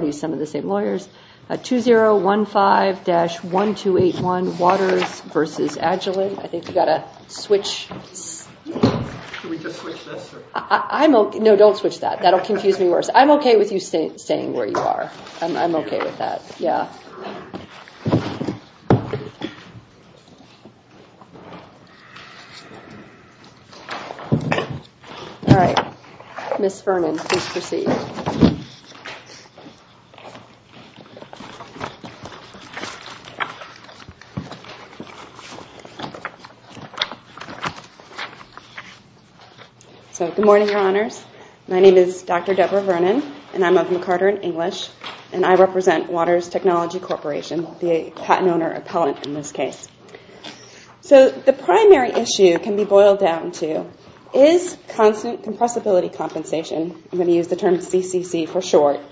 2015-1281 Waters v. Agilent Good morning, Your Honors. My name is Dr. Deborah Vernon, and I'm of McCarter and English, and I represent Waters Technology Corporation, the patent owner appellant in this case. So the primary issue can be boiled down to, is constant compressibility compensation, I'm going to use the term CCC for short. So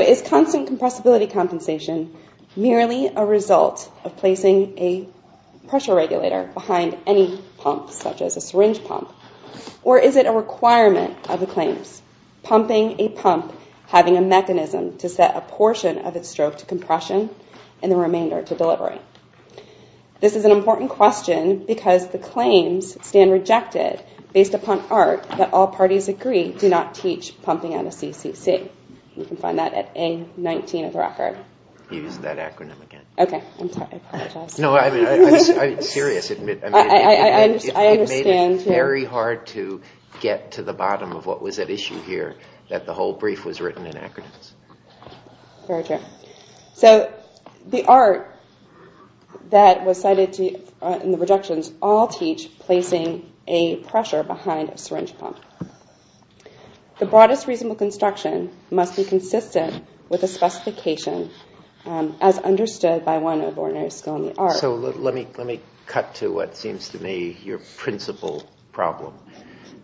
is constant compressibility compensation merely a result of placing a pressure regulator behind any pump, such as a syringe pump, or is it a requirement of the claims? Pumping a pump having a mechanism to set a portion of its stroke to compression and the remainder to delivery? This is an important question because the claims stand rejected based upon art that all parties agree do not teach pumping on a CCC. You can find that at A-19 of the record. Use that acronym again. Okay, I'm sorry, I apologize. No, I mean, I'm serious. I understand. It's very hard to get to the bottom of what was at issue here, that the whole brief was written in acronyms. Very true. So the art that was cited in the rejections all teach placing a pressure behind a syringe pump. The broadest reasonable construction must be consistent with a specification as to what seems to me your principal problem.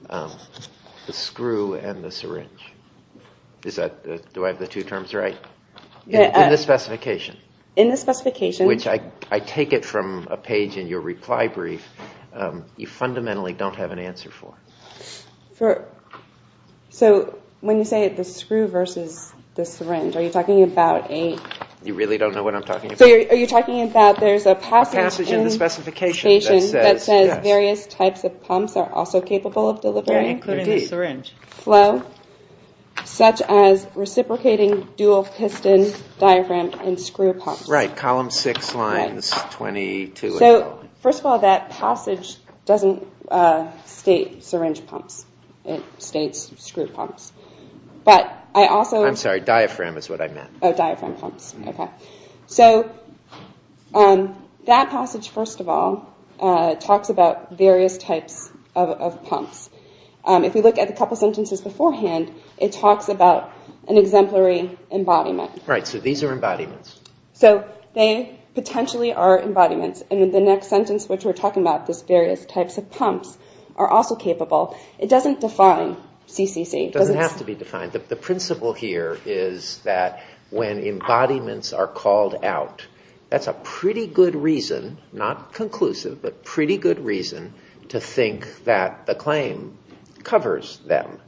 The screw and the syringe. Do I have the two terms right? In the specification, which I take it from a page in your reply brief, you fundamentally don't have an answer for. So when you say the screw versus the syringe, are you talking about a... You really don't know what I'm talking about? So are you talking about there's a passage in the specification that says various types of pumps are also capable of delivering flow, such as reciprocating dual piston diaphragm and screw pumps. Right, column six lines 22 and so on. So first of all, that passage doesn't state syringe pumps. It states screw pumps. I'm sorry, diaphragm is what I meant. Diaphragm pumps, okay. So that passage, first of all, talks about various types of pumps. If you look at a couple of sentences beforehand, it talks about an exemplary embodiment. Right, so these are embodiments. So they potentially are embodiments and in the next sentence, which we're talking about this various types of pumps are also capable. It doesn't define CCC. It doesn't have to be defined. The principle here is that when embodiments are called out, that's a pretty good reason, not conclusive, but pretty good reason to think that the claim covers them.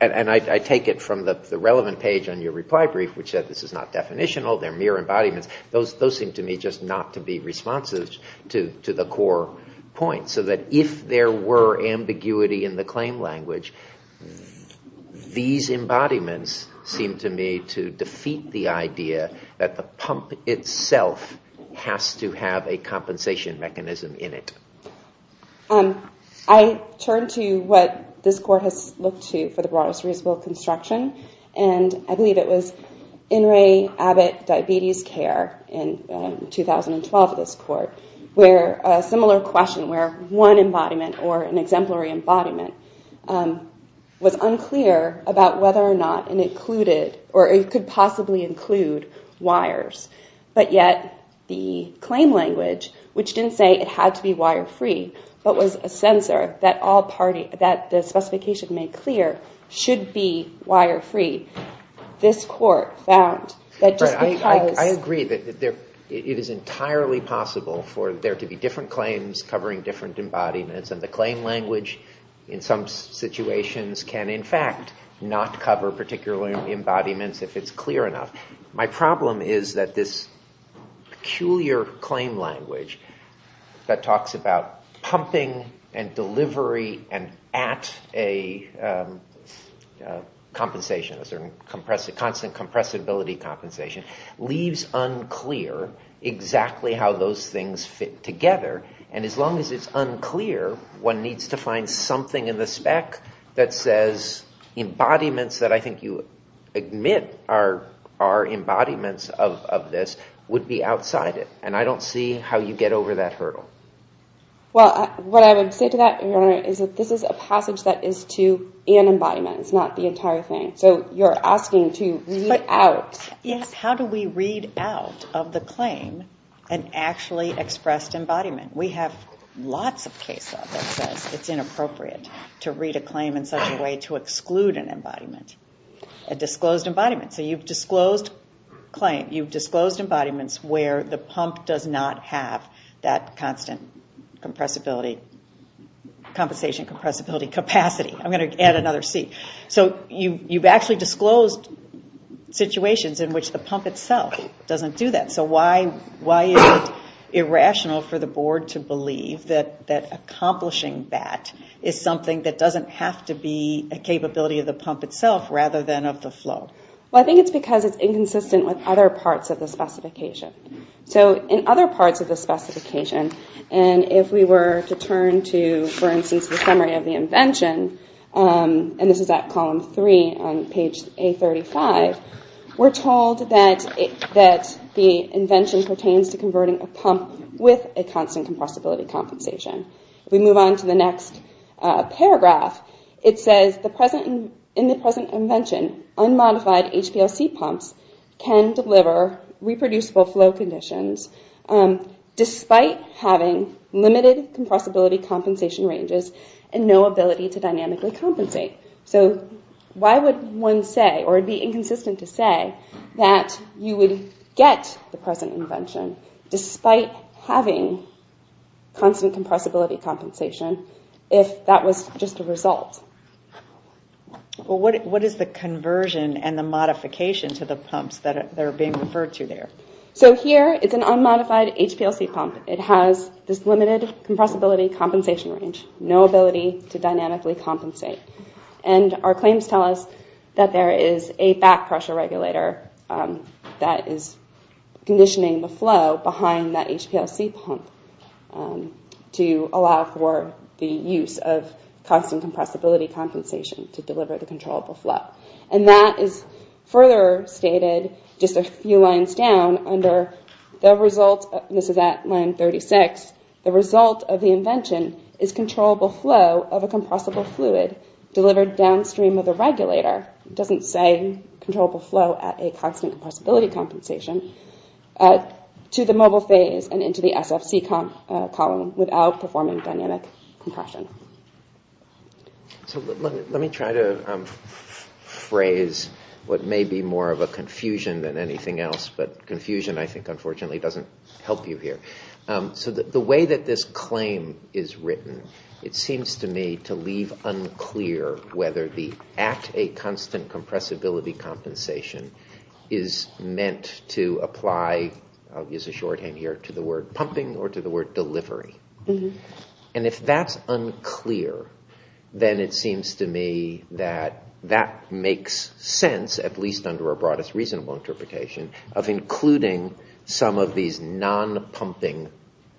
And I take it from the relevant page on your reply brief, which said this is not definitional, they're mere embodiments. Those seem to me just not to be responsive to the core point. So that if there were ambiguity in the claim language, these embodiments seem to me to defeat the idea that the pump itself has to have a compensation mechanism in it. I turn to what this court has looked to for the broadest reasonable construction, and I believe it was In re Abbott Diabetes Care in 2012, this court, where a similar question where one embodiment or an exemplary embodiment was unclear about whether or not it included or it could possibly include wires, but yet the claim language, which didn't say it had to be wire-free, but was a sensor that the specification made clear should be wire-free. This court found that just because- There are different embodiments and the claim language in some situations can in fact not cover particular embodiments if it's clear enough. My problem is that this peculiar claim language that talks about pumping and delivery and at a compensation, a constant compressibility compensation, leaves unclear exactly how those things fit together, and as long as it's unclear, one needs to find something in the spec that says embodiments that I think you admit are embodiments of this would be outside it, and I don't see how you get over that hurdle. Well, what I would say to that, Your Honor, is that this is a passage that is to an embodiment, it's not the entire thing, so you're asking to read out- How do we read out of the claim an actually expressed embodiment? We have lots of cases that says it's inappropriate to read a claim in such a way to exclude an embodiment, a disclosed embodiment, so you've disclosed claim, you've disclosed embodiments where the pump does not have that constant compressibility, compensation compressibility capacity, I'm going to add another C, so you've actually disclosed situations in which the pump itself doesn't do that, so why is it irrational for the Board to believe that accomplishing that is something that doesn't have to be a capability of the pump itself rather than of the flow? Well, I think it's because it's inconsistent with other parts of the specification, so in other parts of the specification, and if we were to turn to, for instance, the summary of the invention, and this is at column three on page A35, we're told that the invention pertains to converting a pump with a constant compressibility compensation. If we move on to the next paragraph, it says, in the present invention, unmodified HPLC pumps can deliver reproducible flow conditions despite having limited compressibility compensation ranges and no ability to dynamically compensate, so why would one say, or it would be inconsistent to say, that you would get the present invention despite having constant compressibility compensation if that was just a result? What is the conversion and the modification to the pumps that are being referred to there? So here, it's an unmodified HPLC pump. It has this limited compressibility compensation range, no ability to dynamically compensate, and our claims tell us that there is a back pressure regulator that is conditioning the flow behind that HPLC pump to allow for the use of constant compressibility compensation to deliver the controllable flow, and that is further stated just a few lines down under the result, this is at line 36, the result of the invention is controllable flow of a compressible fluid delivered downstream of the regulator, it doesn't say controllable flow at a constant compressibility compensation, to the mobile phase and into the SFC column without performing dynamic compression. So let me try to phrase what may be more of a confusion than anything else, but confusion I think unfortunately doesn't help you here. So the way that this claim is written, it seems to me to leave unclear whether the at a constant compressibility compensation is meant to apply, I'll use a shorthand here, to the word pumping or to the word delivery, and if that's unclear, then it seems to me that that makes sense, at least under a broad reasonable interpretation, of including some of these non-pumping,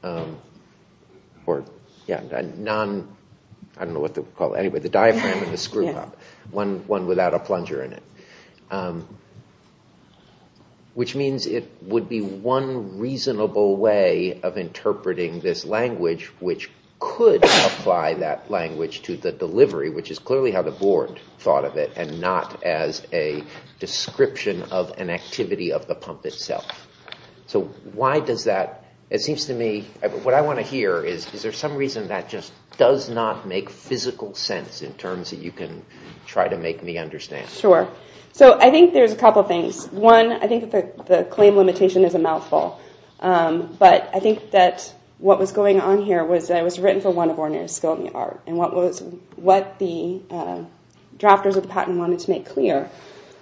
I don't know what they call it, the diaphragm and the screw pump, one without a plunger in it, which means it would be one reasonable way of interpreting this language which could apply that language to the delivery, which is clearly how the board thought of it, and not as a description of an activity of the pump itself. So why does that, it seems to me, what I want to hear is, is there some reason that just does not make physical sense in terms that you can try to make me understand? Sure. So I think there's a couple of things. One, I think that the claim limitation is a mouthful, but I think that what was going on here was that it was written for one of ordinary school in the art, and what the drafters of the patent wanted to make clear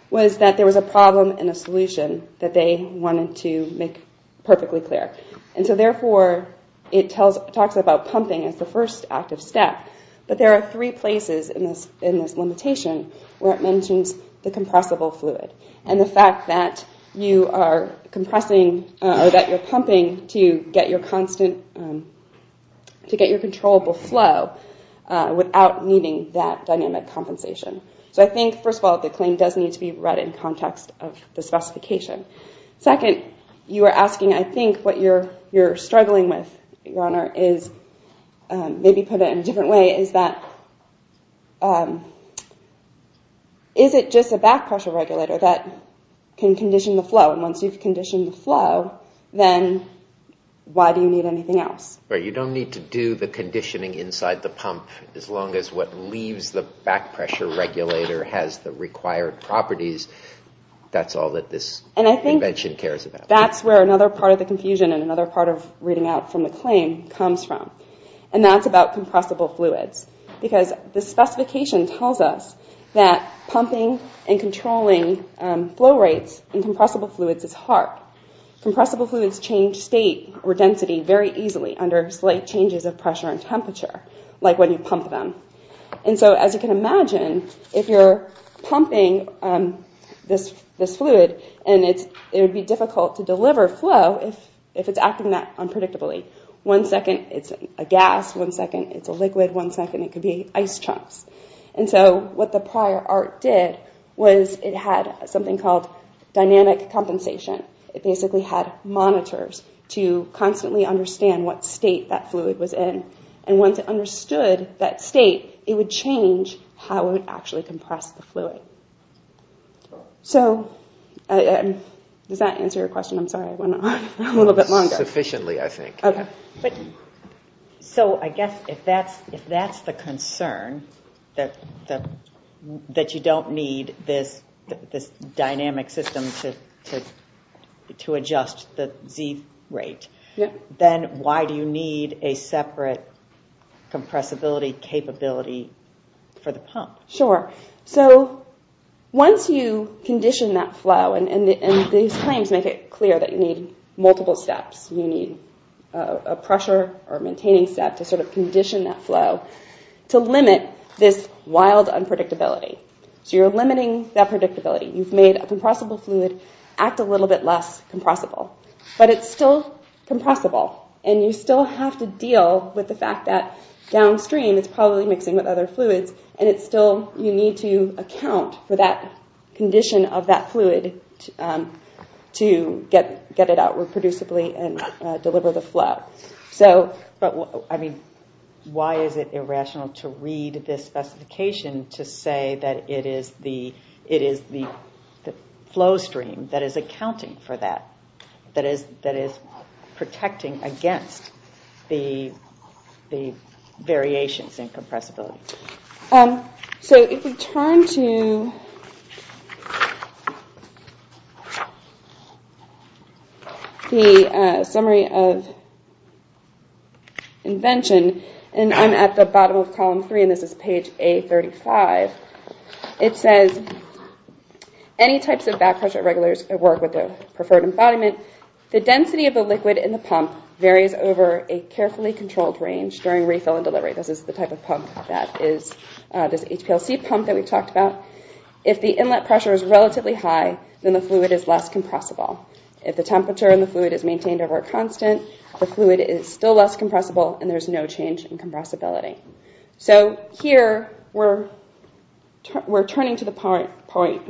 was that there was a problem and a solution that they wanted to make perfectly clear, and so therefore it talks about pumping as the first active step, but there are three places in this limitation where it mentions the compressible fluid, and the fact that you are compressing or that you're pumping to get your constant, to get your controllable flow without needing that dynamic compensation. So I think, first of all, the claim does need to be read in context of the specification. Second, you are asking, I think, what you're struggling with, Your Is it just a back pressure regulator that can condition the flow, and once you've conditioned the flow, then why do you need anything else? You don't need to do the conditioning inside the pump as long as what leaves the back pressure regulator has the required properties. That's all that this invention cares about. That's where another part of the confusion and another part of reading out from the claim comes from, and that's about compressible fluids, because the specification tells us that pumping and controlling flow rates in compressible fluids is hard. Compressible fluids change state or density very easily under slight changes of pressure and temperature, like when you pump them, and so as you can imagine, if you're pumping this fluid, and one second it's a gas, one second it's a liquid, one second it could be ice chunks, and so what the prior art did was it had something called dynamic compensation. It basically had monitors to constantly understand what state that fluid was in, and once it understood that state, it would change how it actually compressed the fluid. Does that answer your question? I'm sorry, I went on a little bit longer. So I guess if that's the concern, that you don't need this dynamic system to adjust the Z rate, then why do you need a separate compressibility capability for the pump? So once you condition that flow, and these claims make it clear that you need multiple steps, you need a pressure or maintaining step to sort of condition that flow, to limit this wild unpredictability. So you're limiting that predictability. You've made a compressible fluid act a little bit less compressible, but it's still compressible, and you still have to deal with the fact that downstream it's probably mixing with other fluids, and it's still, you need to account for that condition of that fluid to get it out or produce a fluid and deliver the flow. So, but I mean, why is it irrational to read this specification to say that it is the flow stream that is accounting for that, that is protecting against the variations in compressibility? Summary of invention, and I'm at the bottom of column 3, and this is page A35. It says, any types of back pressure regulators work with their preferred embodiment. The density of the liquid in the pump varies over a carefully controlled range during refill and delivery. This is the type of pump that is, this HPLC pump that we talked about. If the inlet pressure is relatively high, then the fluid is less compressible. If the temperature in the fluid is maintained over a constant, the fluid is still less compressible, and there's no change in compressibility. So here we're turning to the point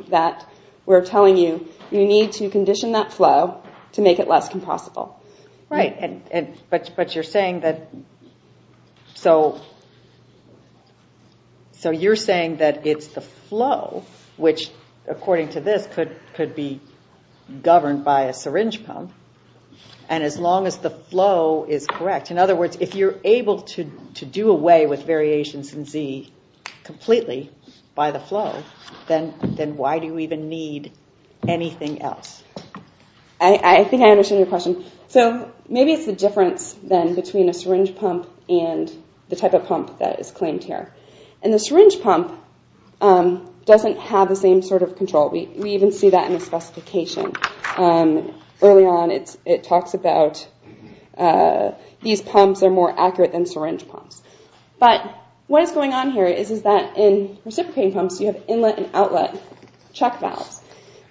that we're telling you, you need to condition that flow to make it less compressible. Right, but you're saying that, so you're saying that it's the flow, which according to this could be governed by a syringe pump, and as long as the flow is correct, in other words, if you're able to do away with variations in Z completely by the flow, then why do you even need anything else? I think I understand your question. So maybe it's the difference then between a syringe pump and the type of pump that is claimed here. And the syringe pump doesn't have the same sort of control. We even see that in the specification. Early on, it talks about these pumps are more accurate than syringe pumps. But what is going on here is that in reciprocating pumps, you have inlet and outlet check valves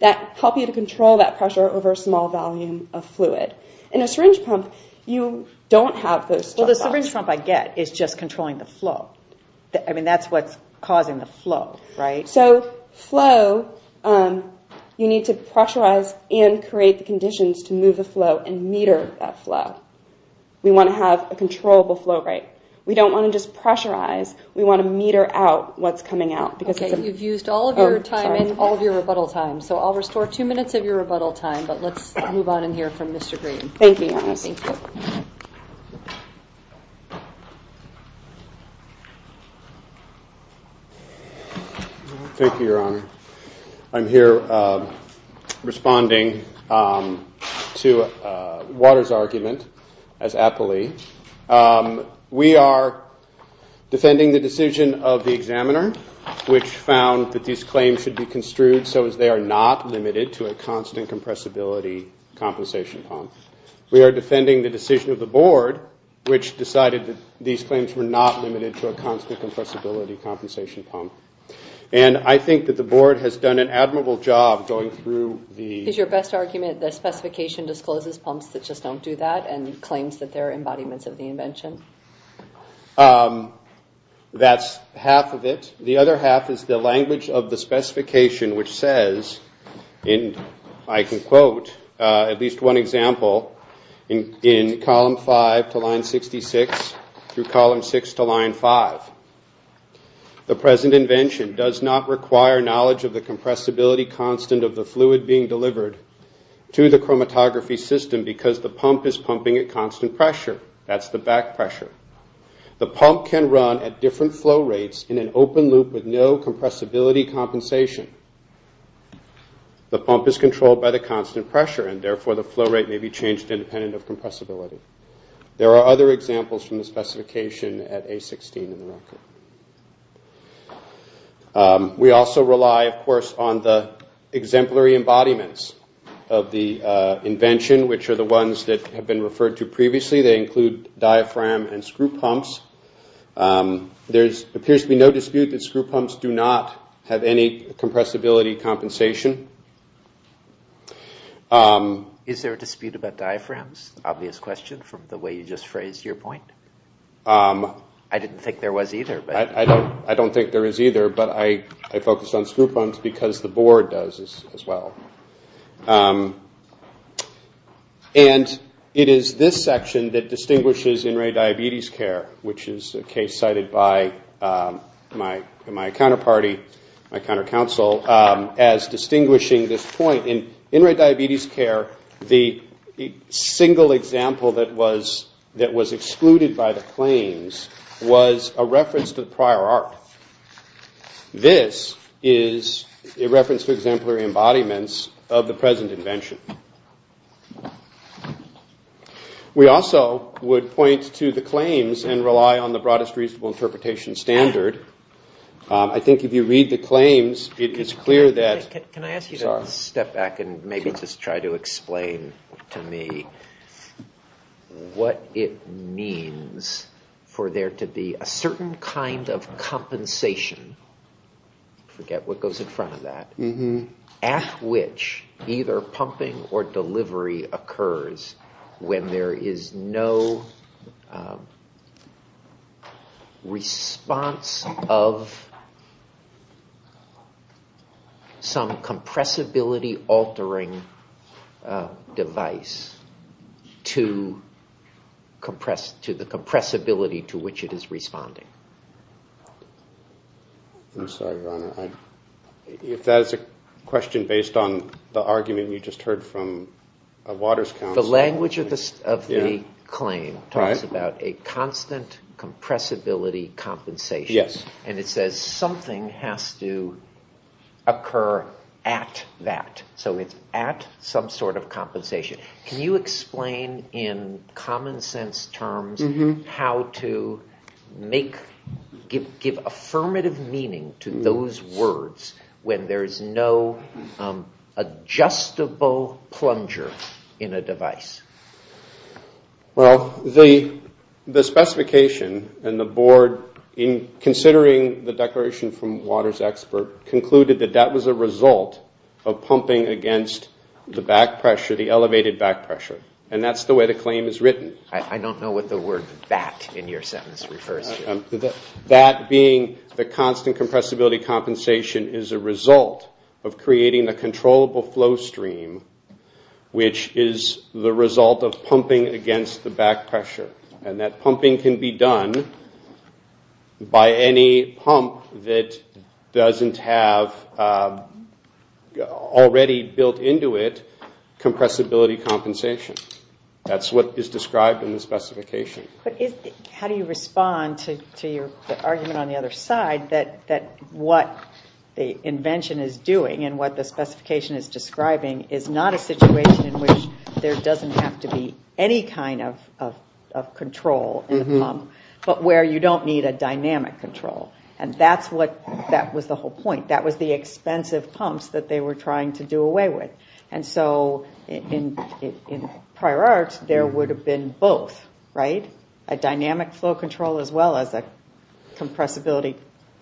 that help you to control that pressure over a small volume of fluid. In a syringe pump, you don't have those check valves. Well, the syringe pump I get is just controlling the flow. I mean, that's what's causing the flow, right? So flow, you need to pressurize and create the conditions to move the flow and meter that flow. We want to have a controllable flow rate. We don't want to just pressurize. We want to meter out what's coming out. Okay, you've used all of your time and all of your rebuttal time. So I'll restore two minutes of your rebuttal time, but let's move on in here from Mr. Green. Thank you, Your Honor. I'm here responding to Waters' argument as aptly. We are defending the decision of the examiner, which found that these claims should be construed so as they are not limited to a constant compressibility compensation pump. We are defending the decision of the Board, which decided that these claims were not limited to a constant compressibility compensation pump. And I think that the Board has done an admirable job going through the... Is your best argument that specification discloses pumps that just don't do that and claims that they're embodiments of the invention? That's half of it. The other half is the language of the specification, which says, and I can quote at least one example in column 5 to line 66 through column 6 to line 5. The present invention does not require knowledge of the compressibility constant of the fluid being delivered to the chromatography system because the pump is pumping at constant pressure. That's the back pressure. The pump can run at different flow rates in an open loop with no compressibility compensation. The pump is controlled by the constant pressure and therefore the flow rate may be changed independent of compressibility. There are other examples from the specification at A16 in the record. We also rely, of course, on the exemplary embodiments of the invention, which are the diaphragm and screw pumps. There appears to be no dispute that screw pumps do not have any compressibility compensation. Is there a dispute about diaphragms? Obvious question from the way you just phrased your point. I didn't think there was either. I don't think there is either, but I focused on screw pumps because the Board does as well. And it is this section that distinguishes in-ray diabetes care, which is a case cited by my counterparty, my countercounsel, as distinguishing this point. In in-ray diabetes care, the single example that was excluded by the claims was a reference to the prior art. This is a reference to exemplary embodiments of the present invention. We also would point to the claims and rely on the broadest reasonable interpretation standard. I think if you read the claims, it is clear that... Can I ask you to step back and maybe just try to explain to me what it means for there to be a certain kind of compensation, I forget what goes in front of that, at which either pumping or delivery occurs when there is no response of some compressibility-altering device to the compressibility to which it is responding. I'm sorry, Your Honor. If that is a question based on the argument we just heard from Waters counsel... The language of the claim talks about a constant compressibility compensation. And it says something has to occur at that. So it's at some sort of compensation. Can you explain in common sense terms how to give affirmative meaning to those words when there is no adjustable plunger in a device? Well, the specification and the board, considering the declaration from Waters' expert, concluded that that was a result of pumping against the back pressure, the elevated back pressure. And that's the way the claim is written. I don't know what the word that in your sentence refers to. That being the constant compressibility compensation is a result of creating a controllable flow stream, which is the result of pumping against the back pressure. And that pumping can be done by any pump that doesn't have already built into it compressibility compensation. That's what is described in the specification. How do you respond to your argument on the other side that what the invention is doing and what the specification is describing is not a situation in which there doesn't have to be any kind of control in the pump, but where you don't need a dynamic control? And that was the whole point. That was the expense of pumps that they were trying to do away with. And so in prior art, there would have been both, right? A dynamic flow control as well as a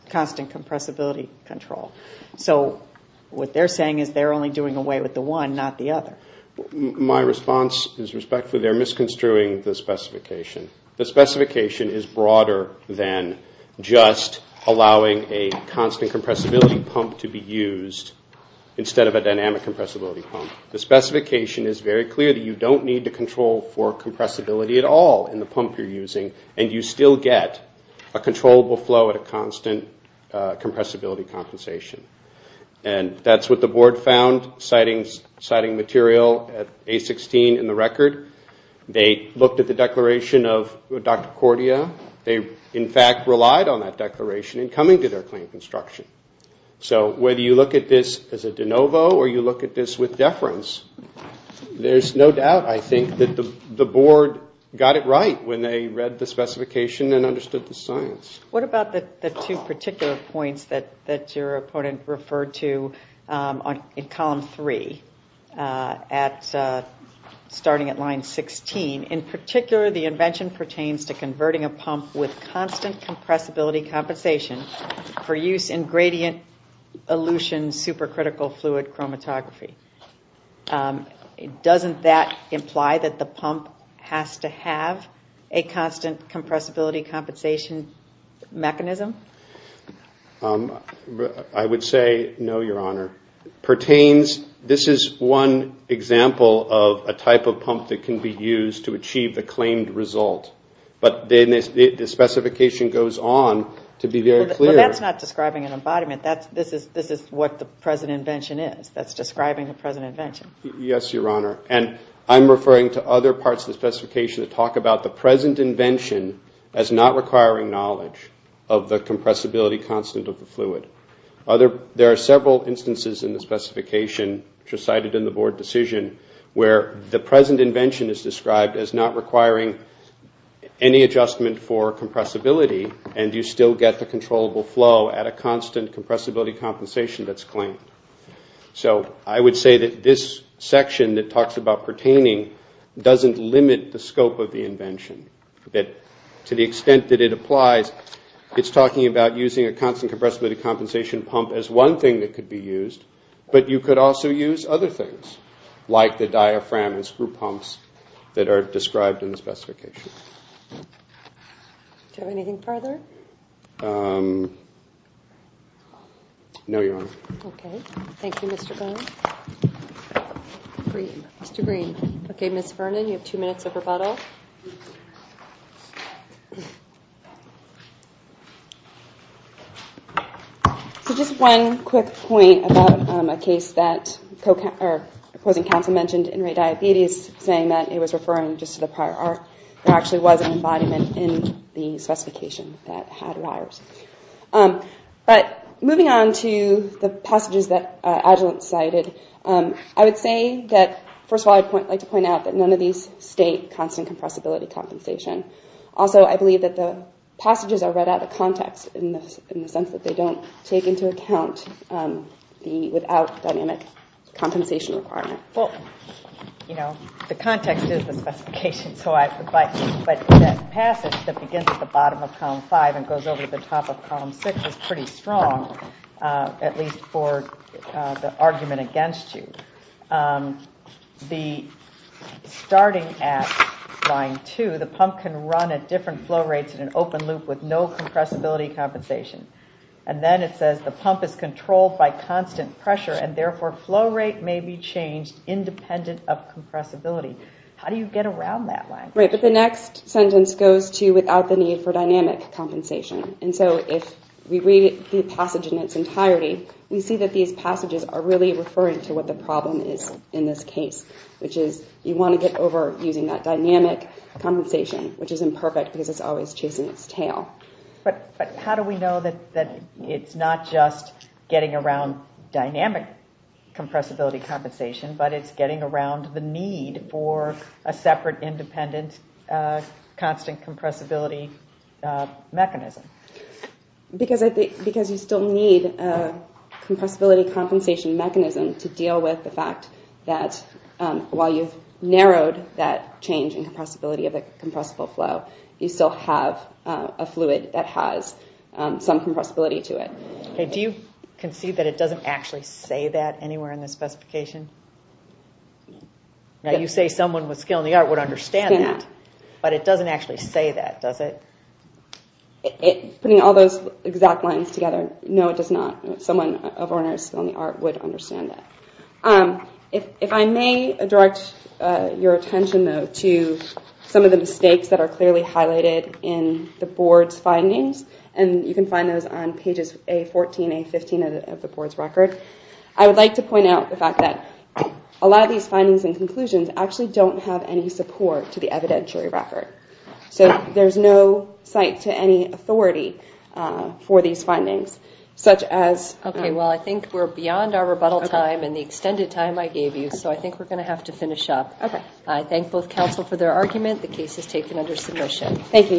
constant compressibility control. So what they're saying is they're only doing away with the one, not the other. My response is respectfully they're misconstruing the specification. The specification is broader than just allowing a constant compressibility pump to be used instead of a dynamic compressibility pump. The specification is very clear that you don't need to control for compressibility at all in the pump you're using, and you still get a controllable flow at a constant compressibility and a constant compensation. And that's what the board found citing material at A-16 in the record. They looked at the declaration of Dr. Cordia. They in fact relied on that declaration in coming to their claim construction. So whether you look at this as a de novo or you look at this with deference, there's no doubt I think that the board got it right when they read the specification and understood the science. What about the two particular points that your opponent referred to in column 3, starting at line 16? In particular, the invention pertains to converting a pump with constant compressibility compensation for use in gradient elution supercritical fluid chromatography. Doesn't that imply that the pump has to have a constant compressibility compensation mechanism? I would say no, Your Honor. This is one example of a type of pump that can be used to achieve the claimed result, but the specification goes on to be very clear. That's not describing an embodiment. This is what the present invention is. That's describing the present invention. Yes, Your Honor. I'm referring to other parts of the specification that talk about the present invention as not requiring knowledge of the compressibility constant of the fluid. There are several instances in the specification, which are cited in the board decision, where the present invention is described as not requiring any adjustment for compressibility and you still get the controllable flow at a constant compressibility compensation that's claimed. So, I would say that this section that talks about pertaining doesn't limit the scope of the invention. To the extent that it applies, it's talking about using a constant compressibility compensation pump as one thing that could be used, but you could also use other things, like the diaphragm and screw pumps that are described in the specification. Do you have anything further? No, Your Honor. Okay. Thank you, Mr. Bowen. Mr. Green. Okay, Ms. Vernon, you have two minutes of rebuttal. So, just one quick point about a case that opposing counsel mentioned in rate diabetes, saying that it was referring just to the prior art. There actually was an embodiment in the specification that had wires. But, moving on to the passages that Agilent cited, I would say that, first of all, I'd like to point out that none of these state constant compressibility compensation. Also, I believe that the passages are read out of context in the sense that they don't take into account the without dynamic compensation requirement. Well, you know, the context is the specification, but that passage that begins at the bottom of column 5 and goes over to the top of column 6 is pretty strong, at least for the argument against you. The starting at line 2, the pump can run at different flow rates in an open loop with no compressibility compensation. And then it says, the pump is controlled by constant pressure, and therefore flow rate may be changed independent of compressibility. How do you get around that line? Right, but the next sentence goes to without the need for dynamic compensation. And so, if we read the passage in its entirety, we see that these passages are really referring to what the problem is in this case, which is you want to get over using that dynamic compensation, which is imperfect because it's always chasing its tail. But how do we know that it's not just getting around dynamic compressibility compensation, but it's getting around the need for a separate independent constant compressibility mechanism? Because you still need a compressibility compensation mechanism to deal with the fact that while you've narrowed that change in compressibility of the compressible flow, you still have a fluid that has some compressibility to it. Do you concede that it doesn't actually say that anywhere in the specification? Now you say someone with skill in the art would understand that, but it doesn't actually say that, does it? Putting all those exact lines together, no it does not. Someone of ornery skill in the art would understand that. If I may direct your attention though to some of the mistakes that are clearly highlighted in the board's findings, and you can find those on pages A14, A15 of the board's record, I would like to point out the fact that a lot of these findings and conclusions actually don't have any support to the evidentiary record. So there's no site to any authority for these findings, such as... Okay, well I think we're beyond our rebuttal time and the extended time I gave you, so I think we're going to have to finish up. I thank both counsel for their argument. The case is taken under submission. Thank you.